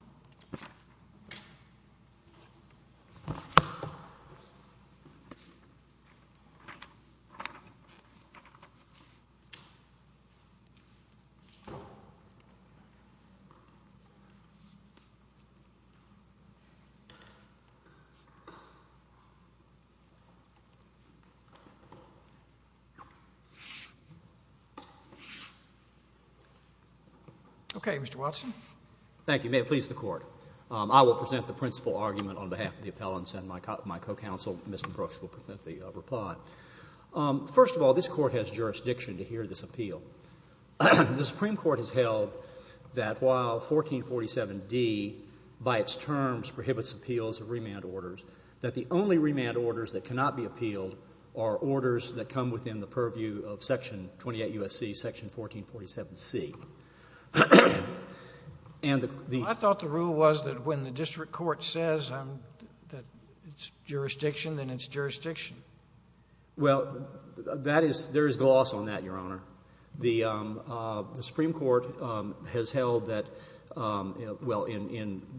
The President Okay, Mr. Watson. Thank you. May it please the Court. I will present the principal argument on behalf of the appellants and my co-counsel, Mr. Brooks, will present the reply. First of all, this Court has jurisdiction to hear this appeal. The Supreme Court has held that while 1447d, by its terms, prohibits appeals of remand orders, that the only remand orders that cannot be appealed are orders that come within the purview of Section 28 U.S.C., Section 1447c. I thought the rule was that when the district court says that it's jurisdiction, then it's jurisdiction. Well, there is gloss on that, Your Honor. The Supreme Court has held that, well,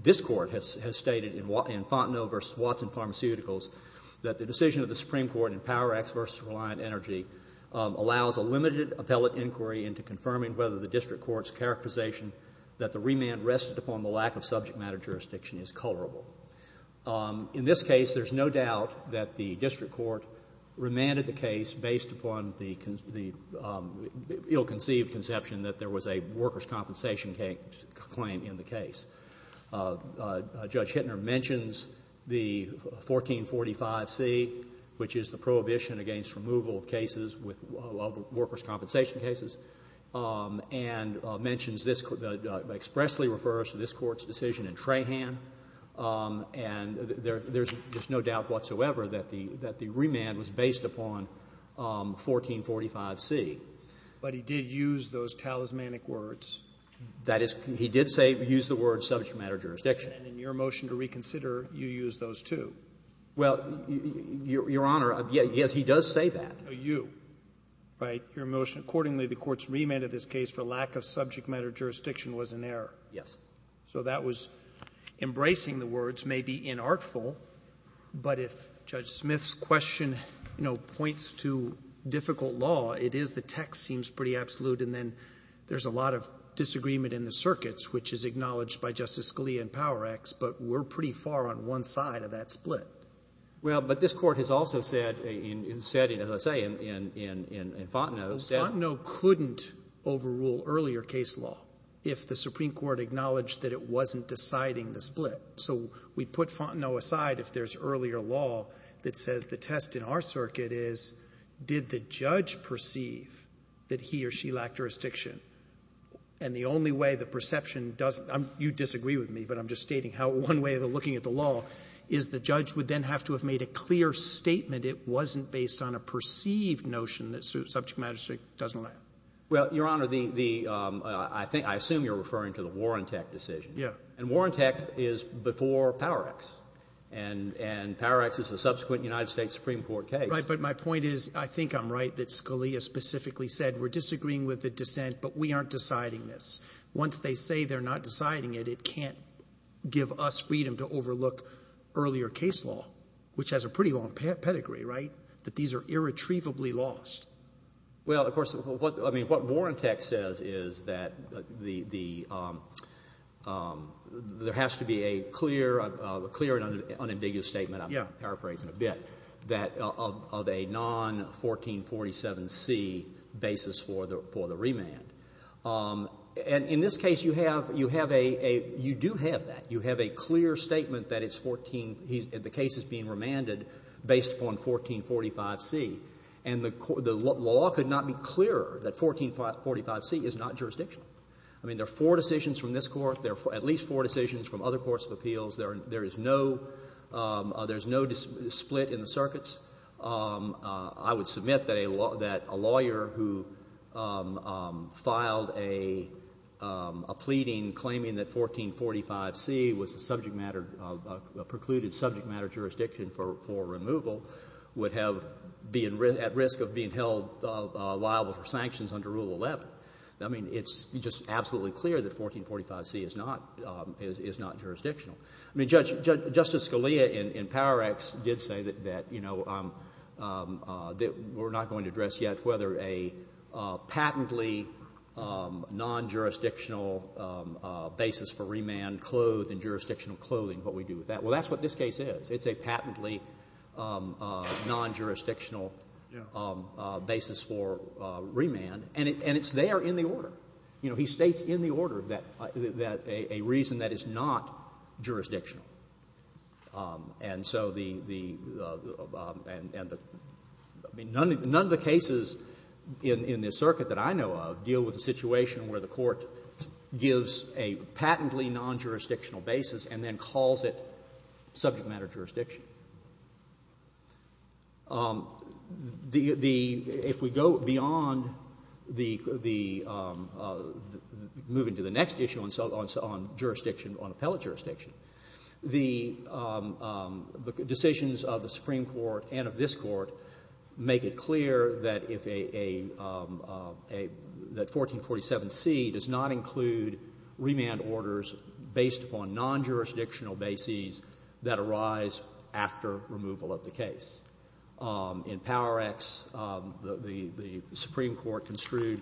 this Court has stated in Fontenot v. Watson Pharmaceuticals that the decision of the Supreme Court in Power Act v. Reliant Energy allows a limited appellate inquiry into confirming whether the district court's characterization that the remand rested upon the lack of subject matter jurisdiction is colorable. In this case, there's no doubt that the district court remanded the case based upon the ill-conceived conception that there was a workers' compensation claim in the case. Judge Hittner mentions the 1445c, which is the prohibition against removal of cases with workers' compensation cases, and mentions this, expressly refers to this Court's decision in Trahan, and there's no doubt whatsoever that the remand was based upon 1445c. But he did use those talismanic words. That is, he did say, use the word subject matter jurisdiction. And in your motion to reconsider, you used those, too. Well, Your Honor, yes, he does say that. You, right, your motion accordingly, the Court's remand of this case for lack of subject matter jurisdiction was in error. Yes. So that was embracing the words, maybe inartful, but if Judge Smith's question, you know, points to difficult law, it is the text seems pretty absolute, and then there's a lot of disagreement in the circuits, which is acknowledged by Justice Scalia in Power Acts, but we're pretty far on one side of that split. Well, but this Court has also said, as I say, in Fontenot. Fontenot couldn't overrule earlier case law if the Supreme Court acknowledged that it wasn't deciding the split. So we put Fontenot aside if there's earlier law that says the test in our circuit is, did the judge perceive that he or she lacked jurisdiction? And the only way the perception does — you disagree with me, but I'm just stating how one way of looking at the law is the judge would then have to have made a clear statement it wasn't based on a perceived notion that subject matter jurisdiction doesn't allow. Well, Your Honor, the — I think — I assume you're referring to the Warrantech decision. Yes. And Warrantech is before Power Acts, and Power Acts is the subsequent United States Supreme Court case. Right, but my point is I think I'm right that Scalia specifically said we're disagreeing with the dissent, but we aren't deciding this. Once they say they're not deciding it, it can't give us freedom to overlook earlier case law, which has a pretty long pedigree, right, that these are irretrievably lost. Well, of course, what Warrantech says is that there has to be a clear and unambiguous statement. I'm paraphrasing a bit. That of a non-1447C basis for the remand. And in this case, you have a — you do have that. You have a clear statement that it's 14 — the case is being remanded based upon 1445C. And the law could not be clearer that 1445C is not jurisdictional. I mean, there are four decisions from this Court. There are at least four decisions from other courts of appeals. There is no — there is no split in the circuits. I would submit that a lawyer who filed a pleading claiming that 1445C was a subject matter — a precluded subject matter jurisdiction for removal would have — be at risk of being held liable for sanctions under Rule 11. I mean, it's just absolutely clear that 1445C is not jurisdictional. I mean, Justice Scalia in Power Act did say that, you know, we're not going to address yet whether a patently non-jurisdictional basis for remand clothed in jurisdictional clothing, what we do with that. Well, that's what this case is. It's a patently non-jurisdictional basis for remand. You know, he states in the order that a reason that is not jurisdictional. And so the — I mean, none of the cases in this circuit that I know of deal with a situation where the Court gives a patently non-jurisdictional basis and then calls it subject matter jurisdiction. The — if we go beyond the — moving to the next issue on jurisdiction, on appellate jurisdiction, the decisions of the Supreme Court and of this Court make it clear that if a — that 1447C does not include remand orders based upon non-jurisdictional bases that arise after removal of the case. In Power Acts, the Supreme Court construed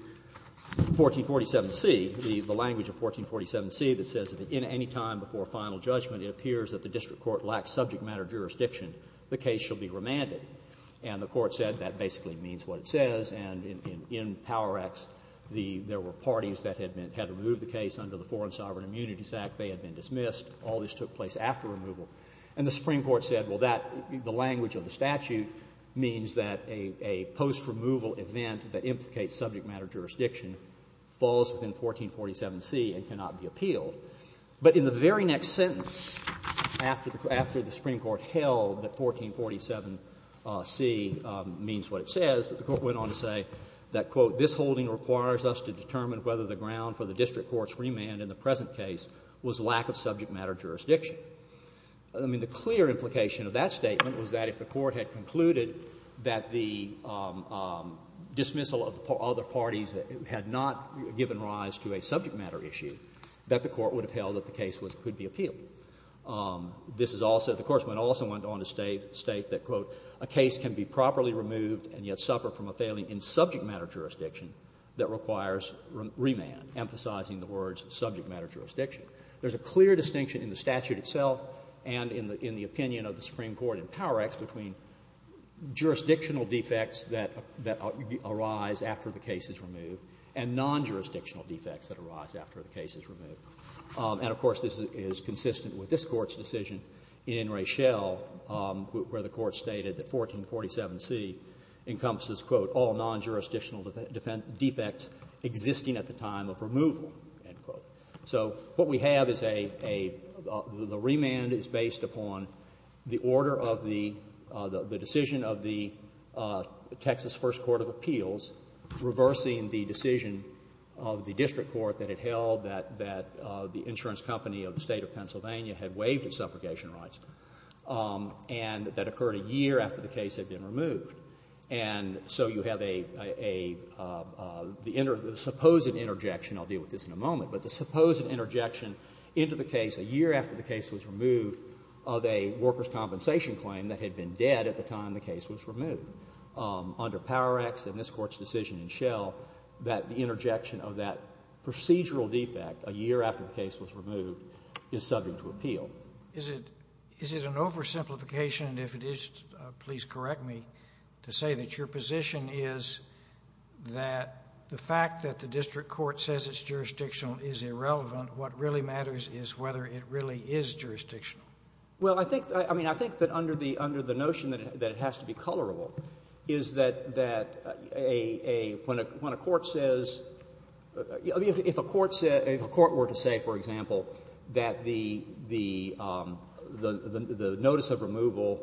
1447C, the language of 1447C that says that any time before final judgment it appears that the district court lacks subject matter jurisdiction, the case shall be remanded. And the Court said that basically means what it says. And in Power Acts, the — there were parties that had been — had removed the case under the Foreign Sovereign Immunities Act. They had been dismissed. All this took place after removal. And the Supreme Court said, well, that — the language of the statute means that a post-removal event that implicates subject matter jurisdiction falls within 1447C and cannot be appealed. But in the very next sentence, after the — after the Supreme Court held that 1447C means what it says, the Court went on to say that, quote, this holding requires us to determine whether the ground for the district court's remand in the present case was lack of subject matter jurisdiction. I mean, the clear implication of that statement was that if the Court had concluded that the dismissal of other parties had not given rise to a subject matter issue, that the Court would have held that the case was — could be appealed. This is also — the Court also went on to state that, quote, a case can be properly removed and yet suffer from a failing in subject matter jurisdiction that requires remand, emphasizing the words subject matter jurisdiction. There's a clear distinction in the statute itself and in the — in the opinion of the Supreme Court in Power Act between jurisdictional defects that — that arise after the case is removed and non-jurisdictional defects that arise after the case is removed. And, of course, this is consistent with this Court's decision in Raychelle, where the Court stated that 1447C encompasses, quote, all non-jurisdictional defects existing at the time of removal, end quote. So what we have is a — a — the remand is based upon the order of the — the decision of the Texas First Court of Appeals reversing the decision of the district court that it held that — that the insurance company of the State of Pennsylvania had waived its supplication rights and that occurred a year after the case had been removed. And so you have a — a — the — the supposed interjection — I'll deal with this in a moment — but the supposed interjection into the case a year after the case was removed of a workers' compensation claim that had been dead at the time the case was removed. Under Power Acts and this Court's decision in Raychelle, that interjection of that procedural defect a year after the case was removed is subject to appeal. Is it — is it an oversimplification, and if it is, please correct me, to say that your position is that the fact that the district court says it's jurisdictional is irrelevant. What really matters is whether it really is jurisdictional. Well, I think — I mean, I think that under the notion that it has to be colorable is that a — when a court says — if a court were to say, for example, that the notice of removal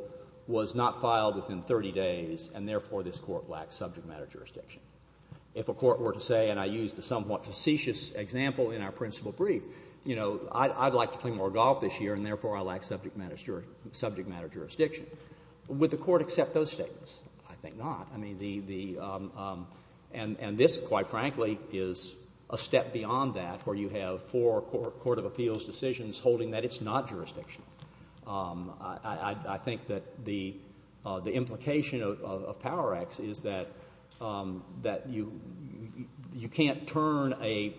was not filed within 30 days and, therefore, this court lacks subject matter jurisdiction. If a court were to say, and I used a somewhat facetious example in our principal brief, you know, I'd like to play more golf this year, and, therefore, I lack subject matter jurisdiction. Would the court accept those statements? I think not. I mean, the — and this, quite frankly, is a step beyond that where you have four court of appeals decisions holding that it's not jurisdictional. I think that the implication of Power Act is that you can't turn a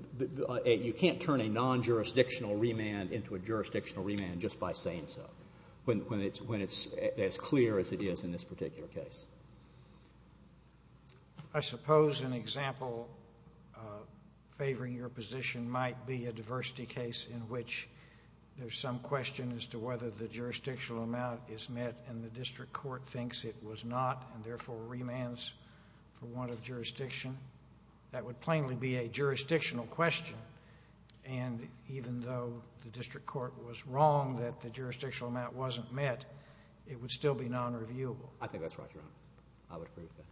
— you can't turn a non-jurisdictional remand into a jurisdictional remand just by saying so when it's as clear as it is in this particular case. I suppose an example favoring your position might be a diversity case in which there's some question as to whether the jurisdictional amount is met and the district court thinks it was not and, therefore, remands for warrant of jurisdiction. That would plainly be a jurisdictional question, and even though the district court was wrong that the jurisdictional amount wasn't met, it would still be non-reviewable. I think that's right, Your Honor. I would agree with that.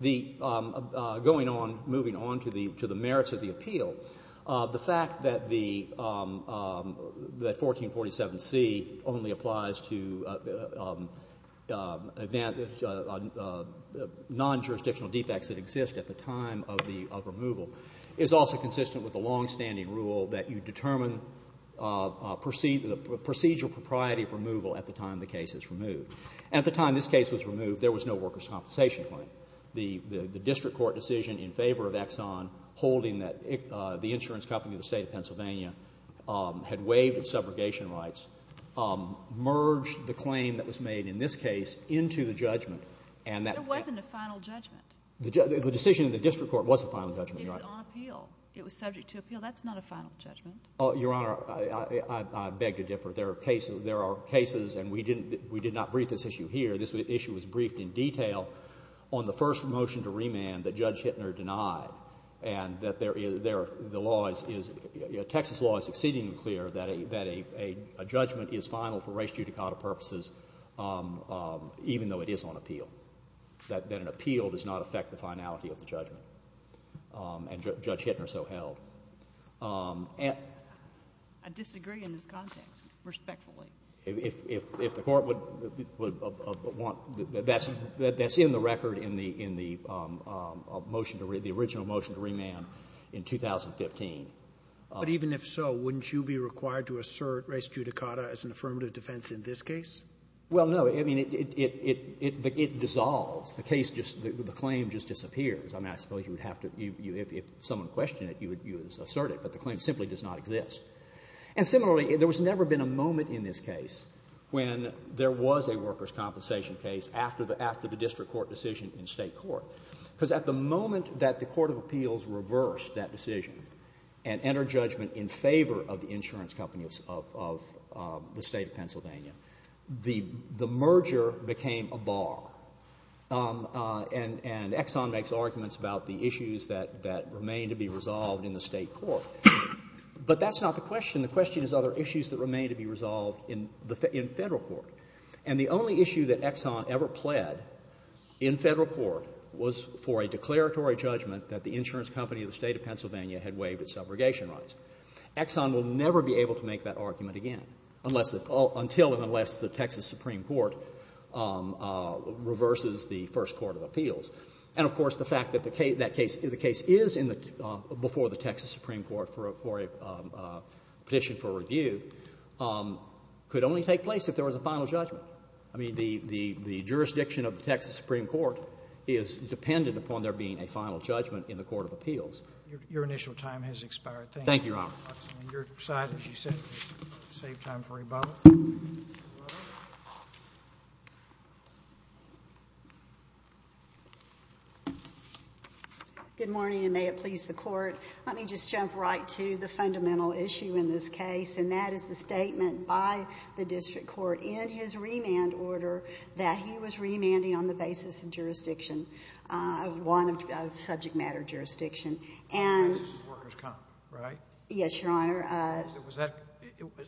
The — going on, moving on to the merits of the appeal, the fact that the — that 1447C only applies to non-jurisdictional defects that exist at the time of the removal is also consistent with the longstanding rule that you determine procedural propriety of removal at the time the case is removed. And at the time this case was removed, there was no workers' compensation claim. The district court decision in favor of Exxon holding that the insurance company of the State of Pennsylvania had waived its subrogation rights merged the claim that was made in this case into the judgment, and that — It wasn't a final judgment. The decision in the district court was a final judgment, Your Honor. It was on appeal. It was subject to appeal. That's not a final judgment. Your Honor, I beg to differ. There are cases — there are cases, and we didn't — we did not brief this issue here. This issue was briefed in detail on the first motion to remand that Judge Hittner denied, and that there is — the law is — Texas law is exceedingly clear that a judgment is final for race-judicata purposes, even though it is on appeal, that an appeal does not affect the finality of the judgment. And Judge Hittner so held. I disagree in this context, respectfully. If the court would want — that's in the record in the motion to — the original motion to remand in 2015. But even if so, wouldn't you be required to assert race-judicata as an affirmative defense in this case? Well, no. I mean, it dissolves. The case just — the claim just disappears. I mean, I suppose you would have to — if someone questioned it, you would assert it. But the claim simply does not exist. And similarly, there has never been a moment in this case when there was a workers' compensation case after the district court decision in State court. Because at the moment that the court of appeals reversed that decision and entered judgment in favor of the insurance companies of the State of Pennsylvania, the merger became a bar. And Exxon makes arguments about the issues that remain to be resolved in the State court. But that's not the question. The question is other issues that remain to be resolved in Federal court. And the only issue that Exxon ever pled in Federal court was for a declaratory judgment that the insurance company of the State of Pennsylvania had waived its subrogation rights. Exxon will never be able to make that argument again, until and unless the Texas Supreme Court reverses the first court of appeals. And, of course, the fact that the case is before the Texas Supreme Court for a petition for review could only take place if there was a final judgment. I mean, the jurisdiction of the Texas Supreme Court is dependent upon there being a final judgment in the court of appeals. Thank you. Thank you, Your Honor. Your side, as you said, will save time for rebuttal. Good morning, and may it please the Court. Let me just jump right to the fundamental issue in this case, and that is the statement by the district court in his remand order that he was remanding on the basis of jurisdiction, of subject matter jurisdiction. On the basis of workers' comp, right? Yes, Your Honor.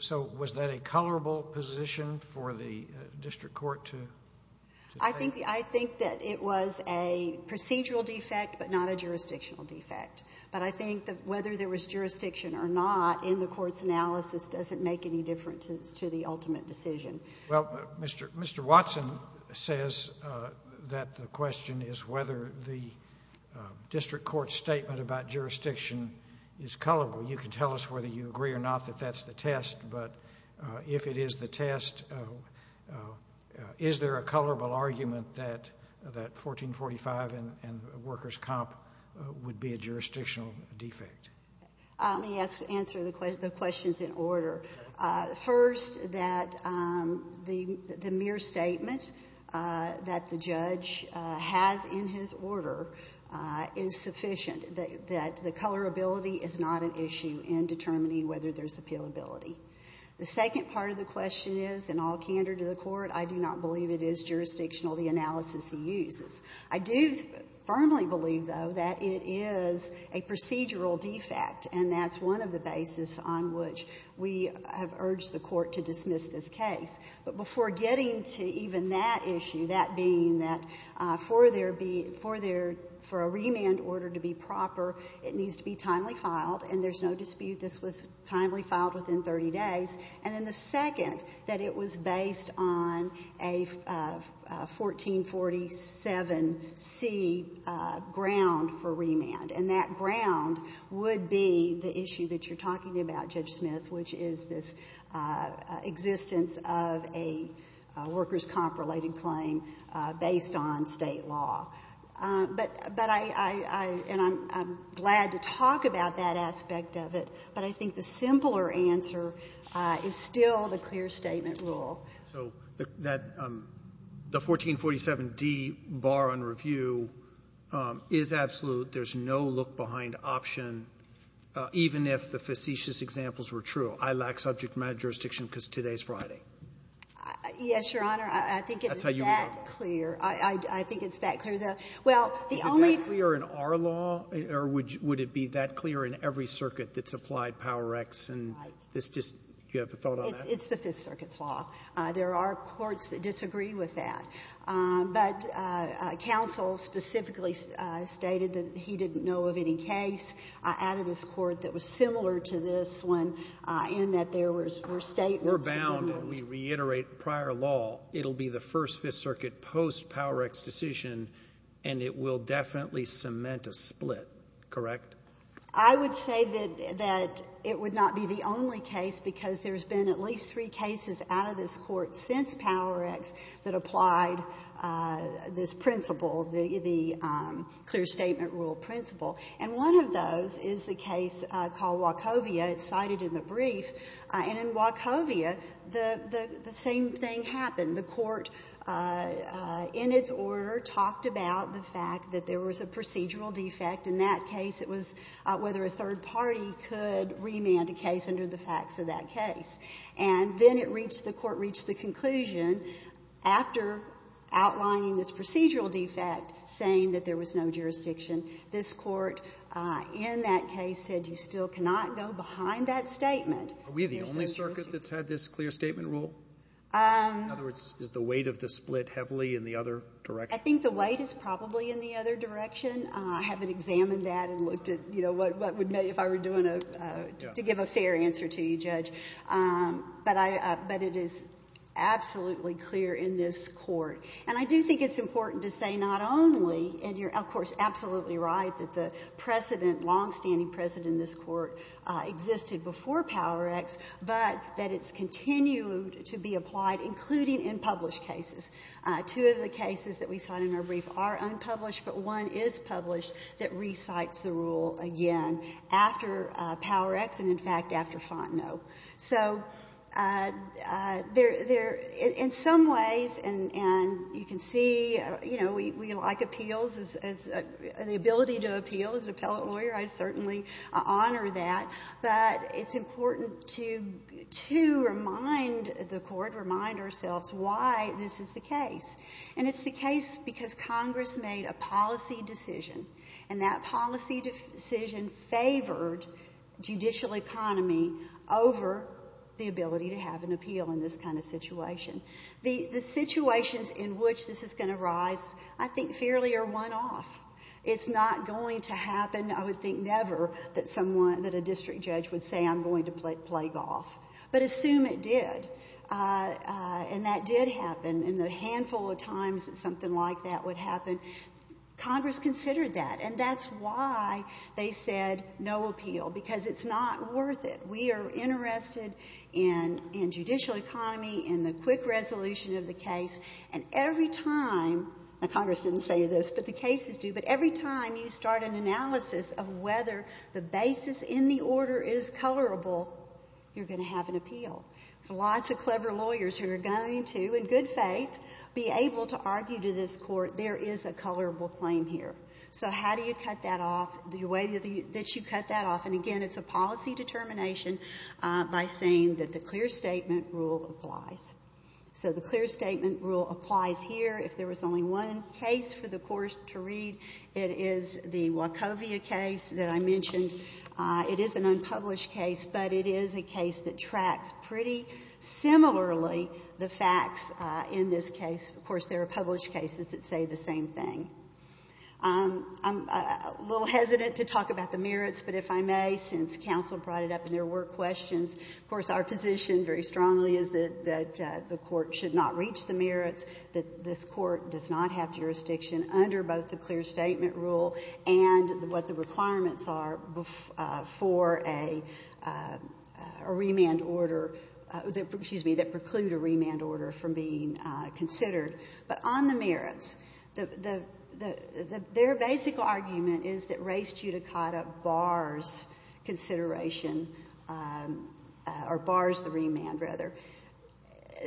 So was that a colorable position for the district court to take? I think that it was a procedural defect, but not a jurisdictional defect. But I think that whether there was jurisdiction or not in the court's analysis doesn't make any difference to the ultimate decision. Well, Mr. Watson says that the question is whether the district court's statement about jurisdiction is colorable. You can tell us whether you agree or not that that's the test, but if it is the test, is there a colorable argument that 1445 and workers' comp would be a jurisdictional defect? Let me answer the questions in order. First, that the mere statement that the judge has in his order is sufficient, that the colorability is not an issue in determining whether there's appealability. The second part of the question is, in all candor to the court, I do not believe it is jurisdictional, the analysis he uses. I do firmly believe, though, that it is a procedural defect, and that's one of the basis on which we have urged the court to dismiss this case. But before getting to even that issue, that being that for a remand order to be proper, it needs to be timely filed, and there's no dispute this was timely filed within 30 days. And then the second, that it was based on a 1447C ground for remand, and that ground would be the issue that you're talking about, Judge Smith, which is this existence of a workers' comp-related claim based on state law. But I'm glad to talk about that aspect of it, but I think the simpler answer is still the clear statement rule. So the 1447D bar on review is absolute. There's no look-behind option, even if the facetious examples were true. I lack subject matter jurisdiction because today's Friday. Yes, Your Honor. I think it's that clear. That's how you read it. I think it's that clear. Well, the only thing that's clear in our law, or would it be that clear in every circuit that's applied Power X, and this just, do you have a thought on that? It's the Fifth Circuit's law. There are courts that disagree with that. But counsel specifically stated that he didn't know of any case out of this court that was similar to this one in that there were statements. We're bound, and we reiterate prior law. It will be the first Fifth Circuit post-Power X decision, and it will definitely cement a split, correct? I would say that it would not be the only case because there's been at least three courts since Power X that applied this principle, the clear statement rule principle. And one of those is the case called Wachovia. It's cited in the brief. And in Wachovia, the same thing happened. The court, in its order, talked about the fact that there was a procedural defect. In that case, it was whether a third party could remand a case under the facts of that case. And then it reached, the court reached the conclusion, after outlining this procedural defect, saying that there was no jurisdiction. This court, in that case, said you still cannot go behind that statement. Are we the only circuit that's had this clear statement rule? In other words, is the weight of the split heavily in the other direction? I think the weight is probably in the other direction. I haven't examined that and looked at, you know, to give a fair answer to you, Judge. But it is absolutely clear in this court. And I do think it's important to say not only, and you're, of course, absolutely right, that the precedent, longstanding precedent in this court existed before Power X, but that it's continued to be applied, including in published cases. Two of the cases that we cite in our brief are unpublished, but one is published that recites the rule again after Power X and, in fact, after Fontenot. So there, in some ways, and you can see, you know, we like appeals. The ability to appeal as an appellate lawyer, I certainly honor that. But it's important to, too, remind the court, remind ourselves why this is the case. And it's the case because Congress made a policy decision, and that policy decision favored judicial economy over the ability to have an appeal in this kind of situation. The situations in which this is going to arise, I think, fairly are one-off. It's not going to happen, I would think, never, that someone, that a district judge would say, I'm going to play golf. But assume it did, and that did happen. And the handful of times that something like that would happen, Congress considered that. And that's why they said no appeal, because it's not worth it. We are interested in judicial economy, in the quick resolution of the case. And every time, and Congress didn't say this, but the cases do, but every time you start an analysis of whether the basis in the order is colorable, you're going to have an appeal. Lots of clever lawyers who are going to, in good faith, be able to argue to this court, there is a colorable claim here. So how do you cut that off, the way that you cut that off? And, again, it's a policy determination by saying that the clear statement rule applies. So the clear statement rule applies here. If there was only one case for the court to read, it is the Wachovia case that I mentioned. It is an unpublished case, but it is a case that tracks pretty similarly the facts in this case. Of course, there are published cases that say the same thing. I'm a little hesitant to talk about the merits, but if I may, since counsel brought it up and there were questions, of course, our position very strongly is that the court should not reach the merits, that this court does not have jurisdiction under both the clear statement rule and what the requirements are for a remand order, excuse me, that preclude a remand order from being considered. But on the merits, their basic argument is that race judicata bars consideration or bars the remand, rather.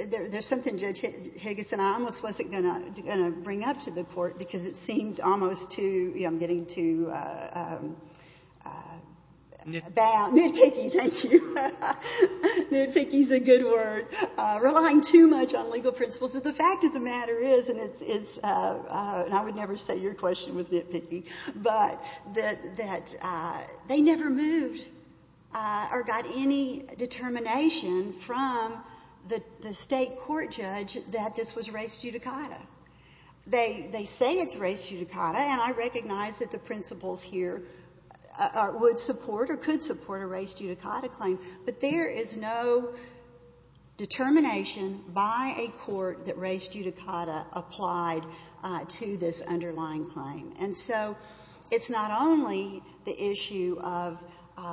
There's something, Judge Higginson, I almost wasn't going to bring up to the court because it seemed almost too, you know, I'm getting too bowed. Nitpicky, thank you. Nitpicky is a good word. Relying too much on legal principles. But the fact of the matter is, and I would never say your question was nitpicky, but that they never moved or got any determination from the state court judge that this was race judicata. They say it's race judicata, and I recognize that the principles here would support or could support a race judicata claim. But there is no determination by a court that race judicata applied to this underlying claim. And so it's not only the issue of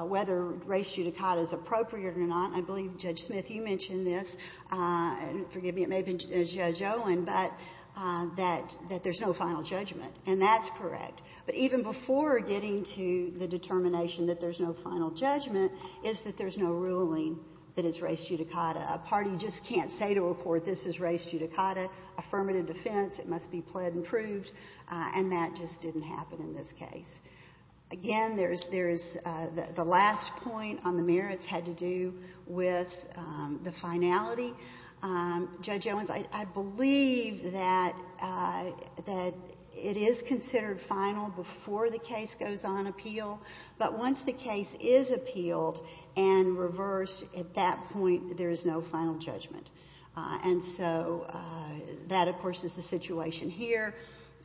whether race judicata is appropriate or not. I believe, Judge Smith, you mentioned this. Forgive me, it may have been Judge Owen, but that there's no final judgment, and that's correct. But even before getting to the determination that there's no final judgment is that there's no ruling that it's race judicata. A party just can't say to a court this is race judicata, affirmative defense, it must be pled and proved, and that just didn't happen in this case. Again, there is the last point on the merits had to do with the finality. Judge Owens, I believe that it is considered final before the case goes on appeal, but once the case is appealed and reversed, at that point there is no final judgment. And so that, of course, is the situation here.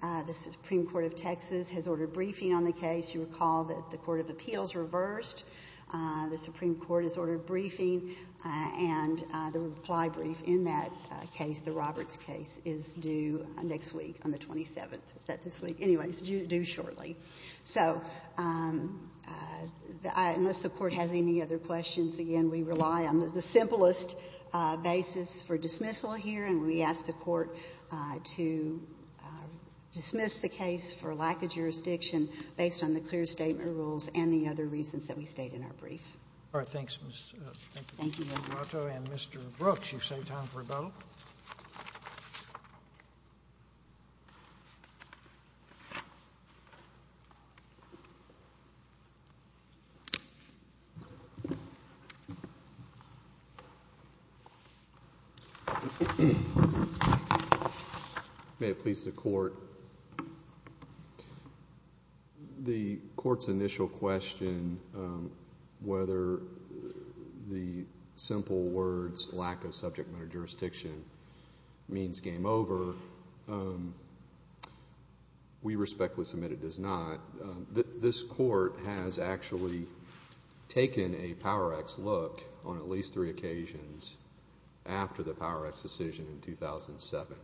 The Supreme Court of Texas has ordered briefing on the case. You recall that the Court of Appeals reversed. The Supreme Court has ordered briefing, and the reply brief in that case, the Roberts case, is due next week on the 27th. Is that this week? Anyway, it's due shortly. So unless the court has any other questions, again, we rely on the simplest basis for dismissal here, and we ask the court to dismiss the case for lack of jurisdiction based on the clear statement rules and the other reasons that we state in our brief. All right, thanks. Thank you. And Mr. Brooks, you've saved time for a vote. May it please the Court. The court's initial question, whether the simple words lack of subject matter jurisdiction means game over, we respectfully submit it does not. This court has actually taken a Power Act's look on at least three occasions after the Power Act's decision in 2007.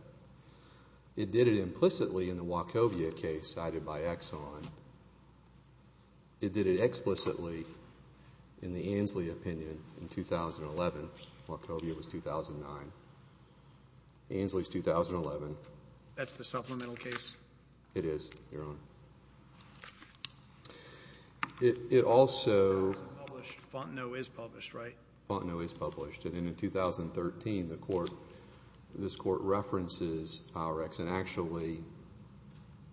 It did it implicitly in the Wachovia case cited by Exxon. It did it explicitly in the Ansley opinion in 2011. Wachovia was 2009. Ansley's 2011. That's the supplemental case? It is, Your Honor. It also… Fontenot is published, right? Fontenot is published. And in 2013, this court references Power Act's and actually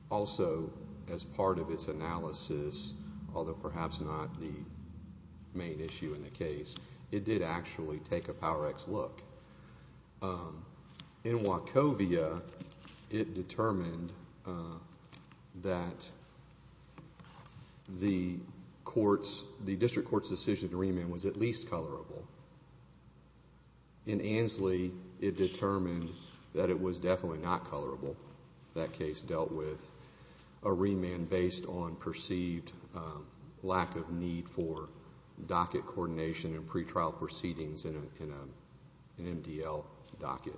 also as part of its analysis, although perhaps not the main issue in the case, it did actually take a Power Act's look. In Wachovia, it determined that the district court's decision to remand was at least colorable. In Ansley, it determined that it was definitely not colorable. That case dealt with a remand based on perceived lack of need for docket coordination and pretrial proceedings in an MDL docket.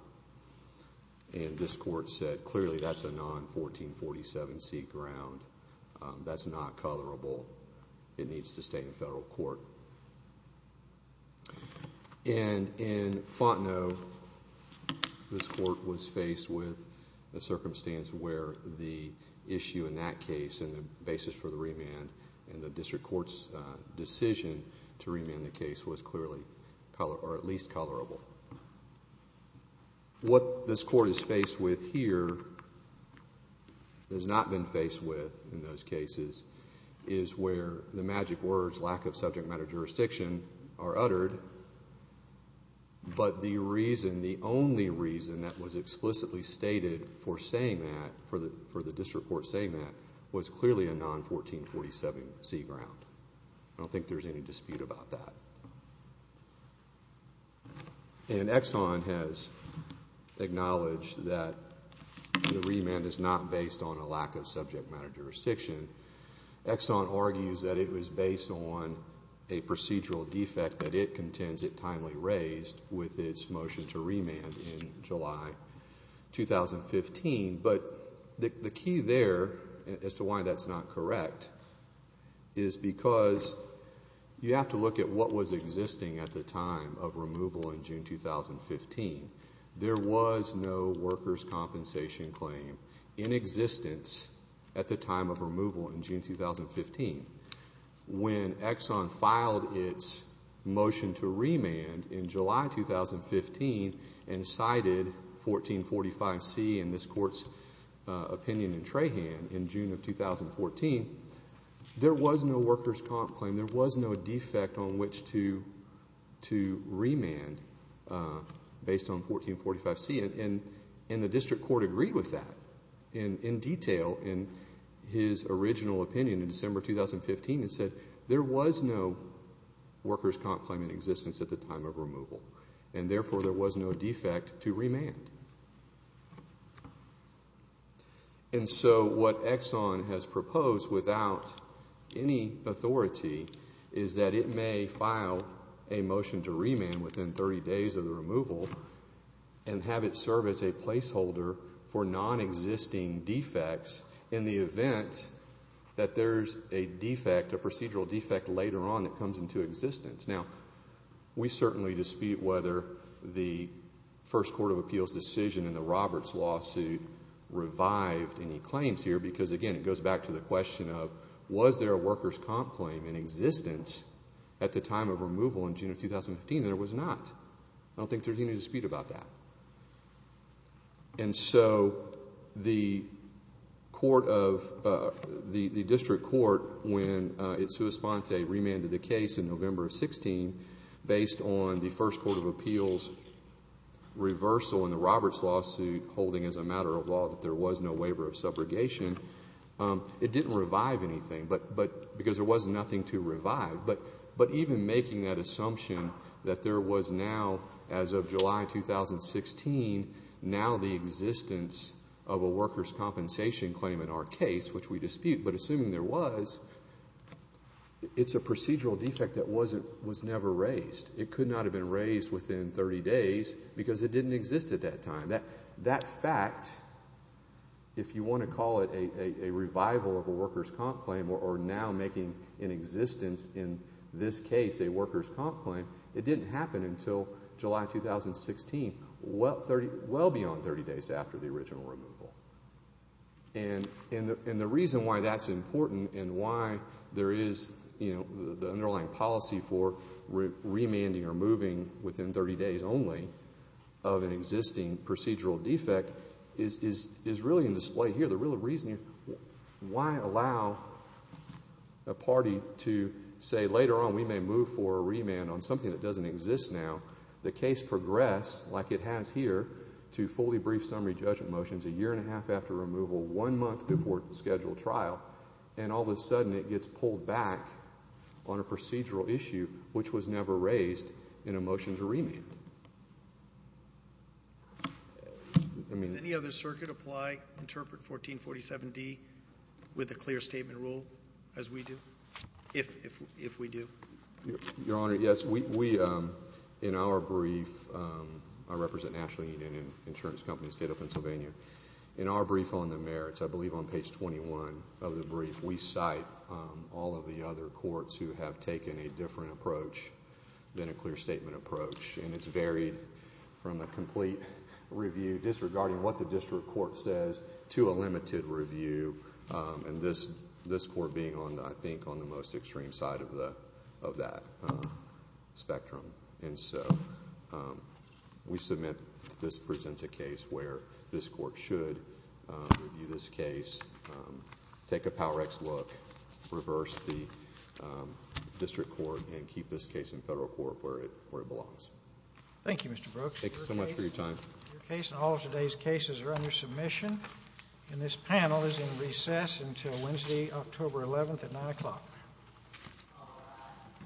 And this court said clearly that's a non-1447C ground. That's not colorable. It needs to stay in federal court. And in Fontenot, this court was faced with a circumstance where the issue in that case and the basis for the remand and the district court's decision to remand the case was clearly at least colorable. What this court is faced with here, has not been faced with in those cases, is where the magic words lack of subject matter jurisdiction are uttered. But the reason, the only reason that was explicitly stated for saying that, for the district court saying that, was clearly a non-1447C ground. I don't think there's any dispute about that. And Exxon has acknowledged that the remand is not based on a lack of subject matter jurisdiction. Exxon argues that it was based on a procedural defect that it contends it timely raised with its motion to remand in July 2015. But the key there, as to why that's not correct, is because you have to look at what was existing at the time of removal in June 2015. There was no workers' compensation claim in existence at the time of removal in June 2015. When Exxon filed its motion to remand in July 2015 and cited 1445C in this court's opinion in Trahan in June of 2014, there was no workers' comp claim. There was no defect on which to remand based on 1445C. And the district court agreed with that in detail in his original opinion in December 2015 and said there was no workers' comp claim in existence at the time of removal, and therefore there was no defect to remand. And so what Exxon has proposed without any authority is that it may file a motion to remand within 30 days of the removal and have it serve as a placeholder for nonexisting defects in the event that there's a defect, a procedural defect, later on that comes into existence. Now, we certainly dispute whether the first court of appeals decision in the Roberts lawsuit revived any claims here because, again, it goes back to the question of was there a workers' comp claim in existence at the time of removal in June of 2015? There was not. I don't think there's any dispute about that. And so the district court, when it sua sponte remanded the case in November of 2016 based on the first court of appeals reversal in the Roberts lawsuit holding as a matter of law that there was no waiver of subrogation, it didn't revive anything because there was nothing to revive. But even making that assumption that there was now, as of July 2016, now the existence of a workers' compensation claim in our case, which we dispute, but assuming there was, it's a procedural defect that was never raised. It could not have been raised within 30 days because it didn't exist at that time. That fact, if you want to call it a revival of a workers' comp claim or now making an existence in this case a workers' comp claim, it didn't happen until July 2016, well beyond 30 days after the original removal. And the reason why that's important and why there is the underlying policy for remanding or moving within 30 days only of an existing procedural defect is really in display here. The real reason why allow a party to say, later on we may move for a remand on something that doesn't exist now, the case progress like it has here to fully brief summary judgment motions a year and a half after removal, one month before scheduled trial, and all of a sudden it gets pulled back on a procedural issue which was never raised in a motion to remand. Does any other circuit apply, interpret 1447D with a clear statement rule as we do, if we do? Your Honor, yes. In our brief, I represent National Union Insurance Company, State of Pennsylvania. In our brief on the merits, I believe on page 21 of the brief, we cite all of the other courts who have taken a different approach than a clear statement approach. And it's varied from a complete review disregarding what the district court says to a limited review. And this court being on, I think, on the most extreme side of that spectrum. And so, we submit this presents a case where this court should review this case, take a PowerX look, reverse the district court, and keep this case in federal court where it belongs. Thank you, Mr. Brooks. Thank you so much for your time. Your case and all of today's cases are under submission. And this panel is in recess until Wednesday, October 11th at 9 o'clock.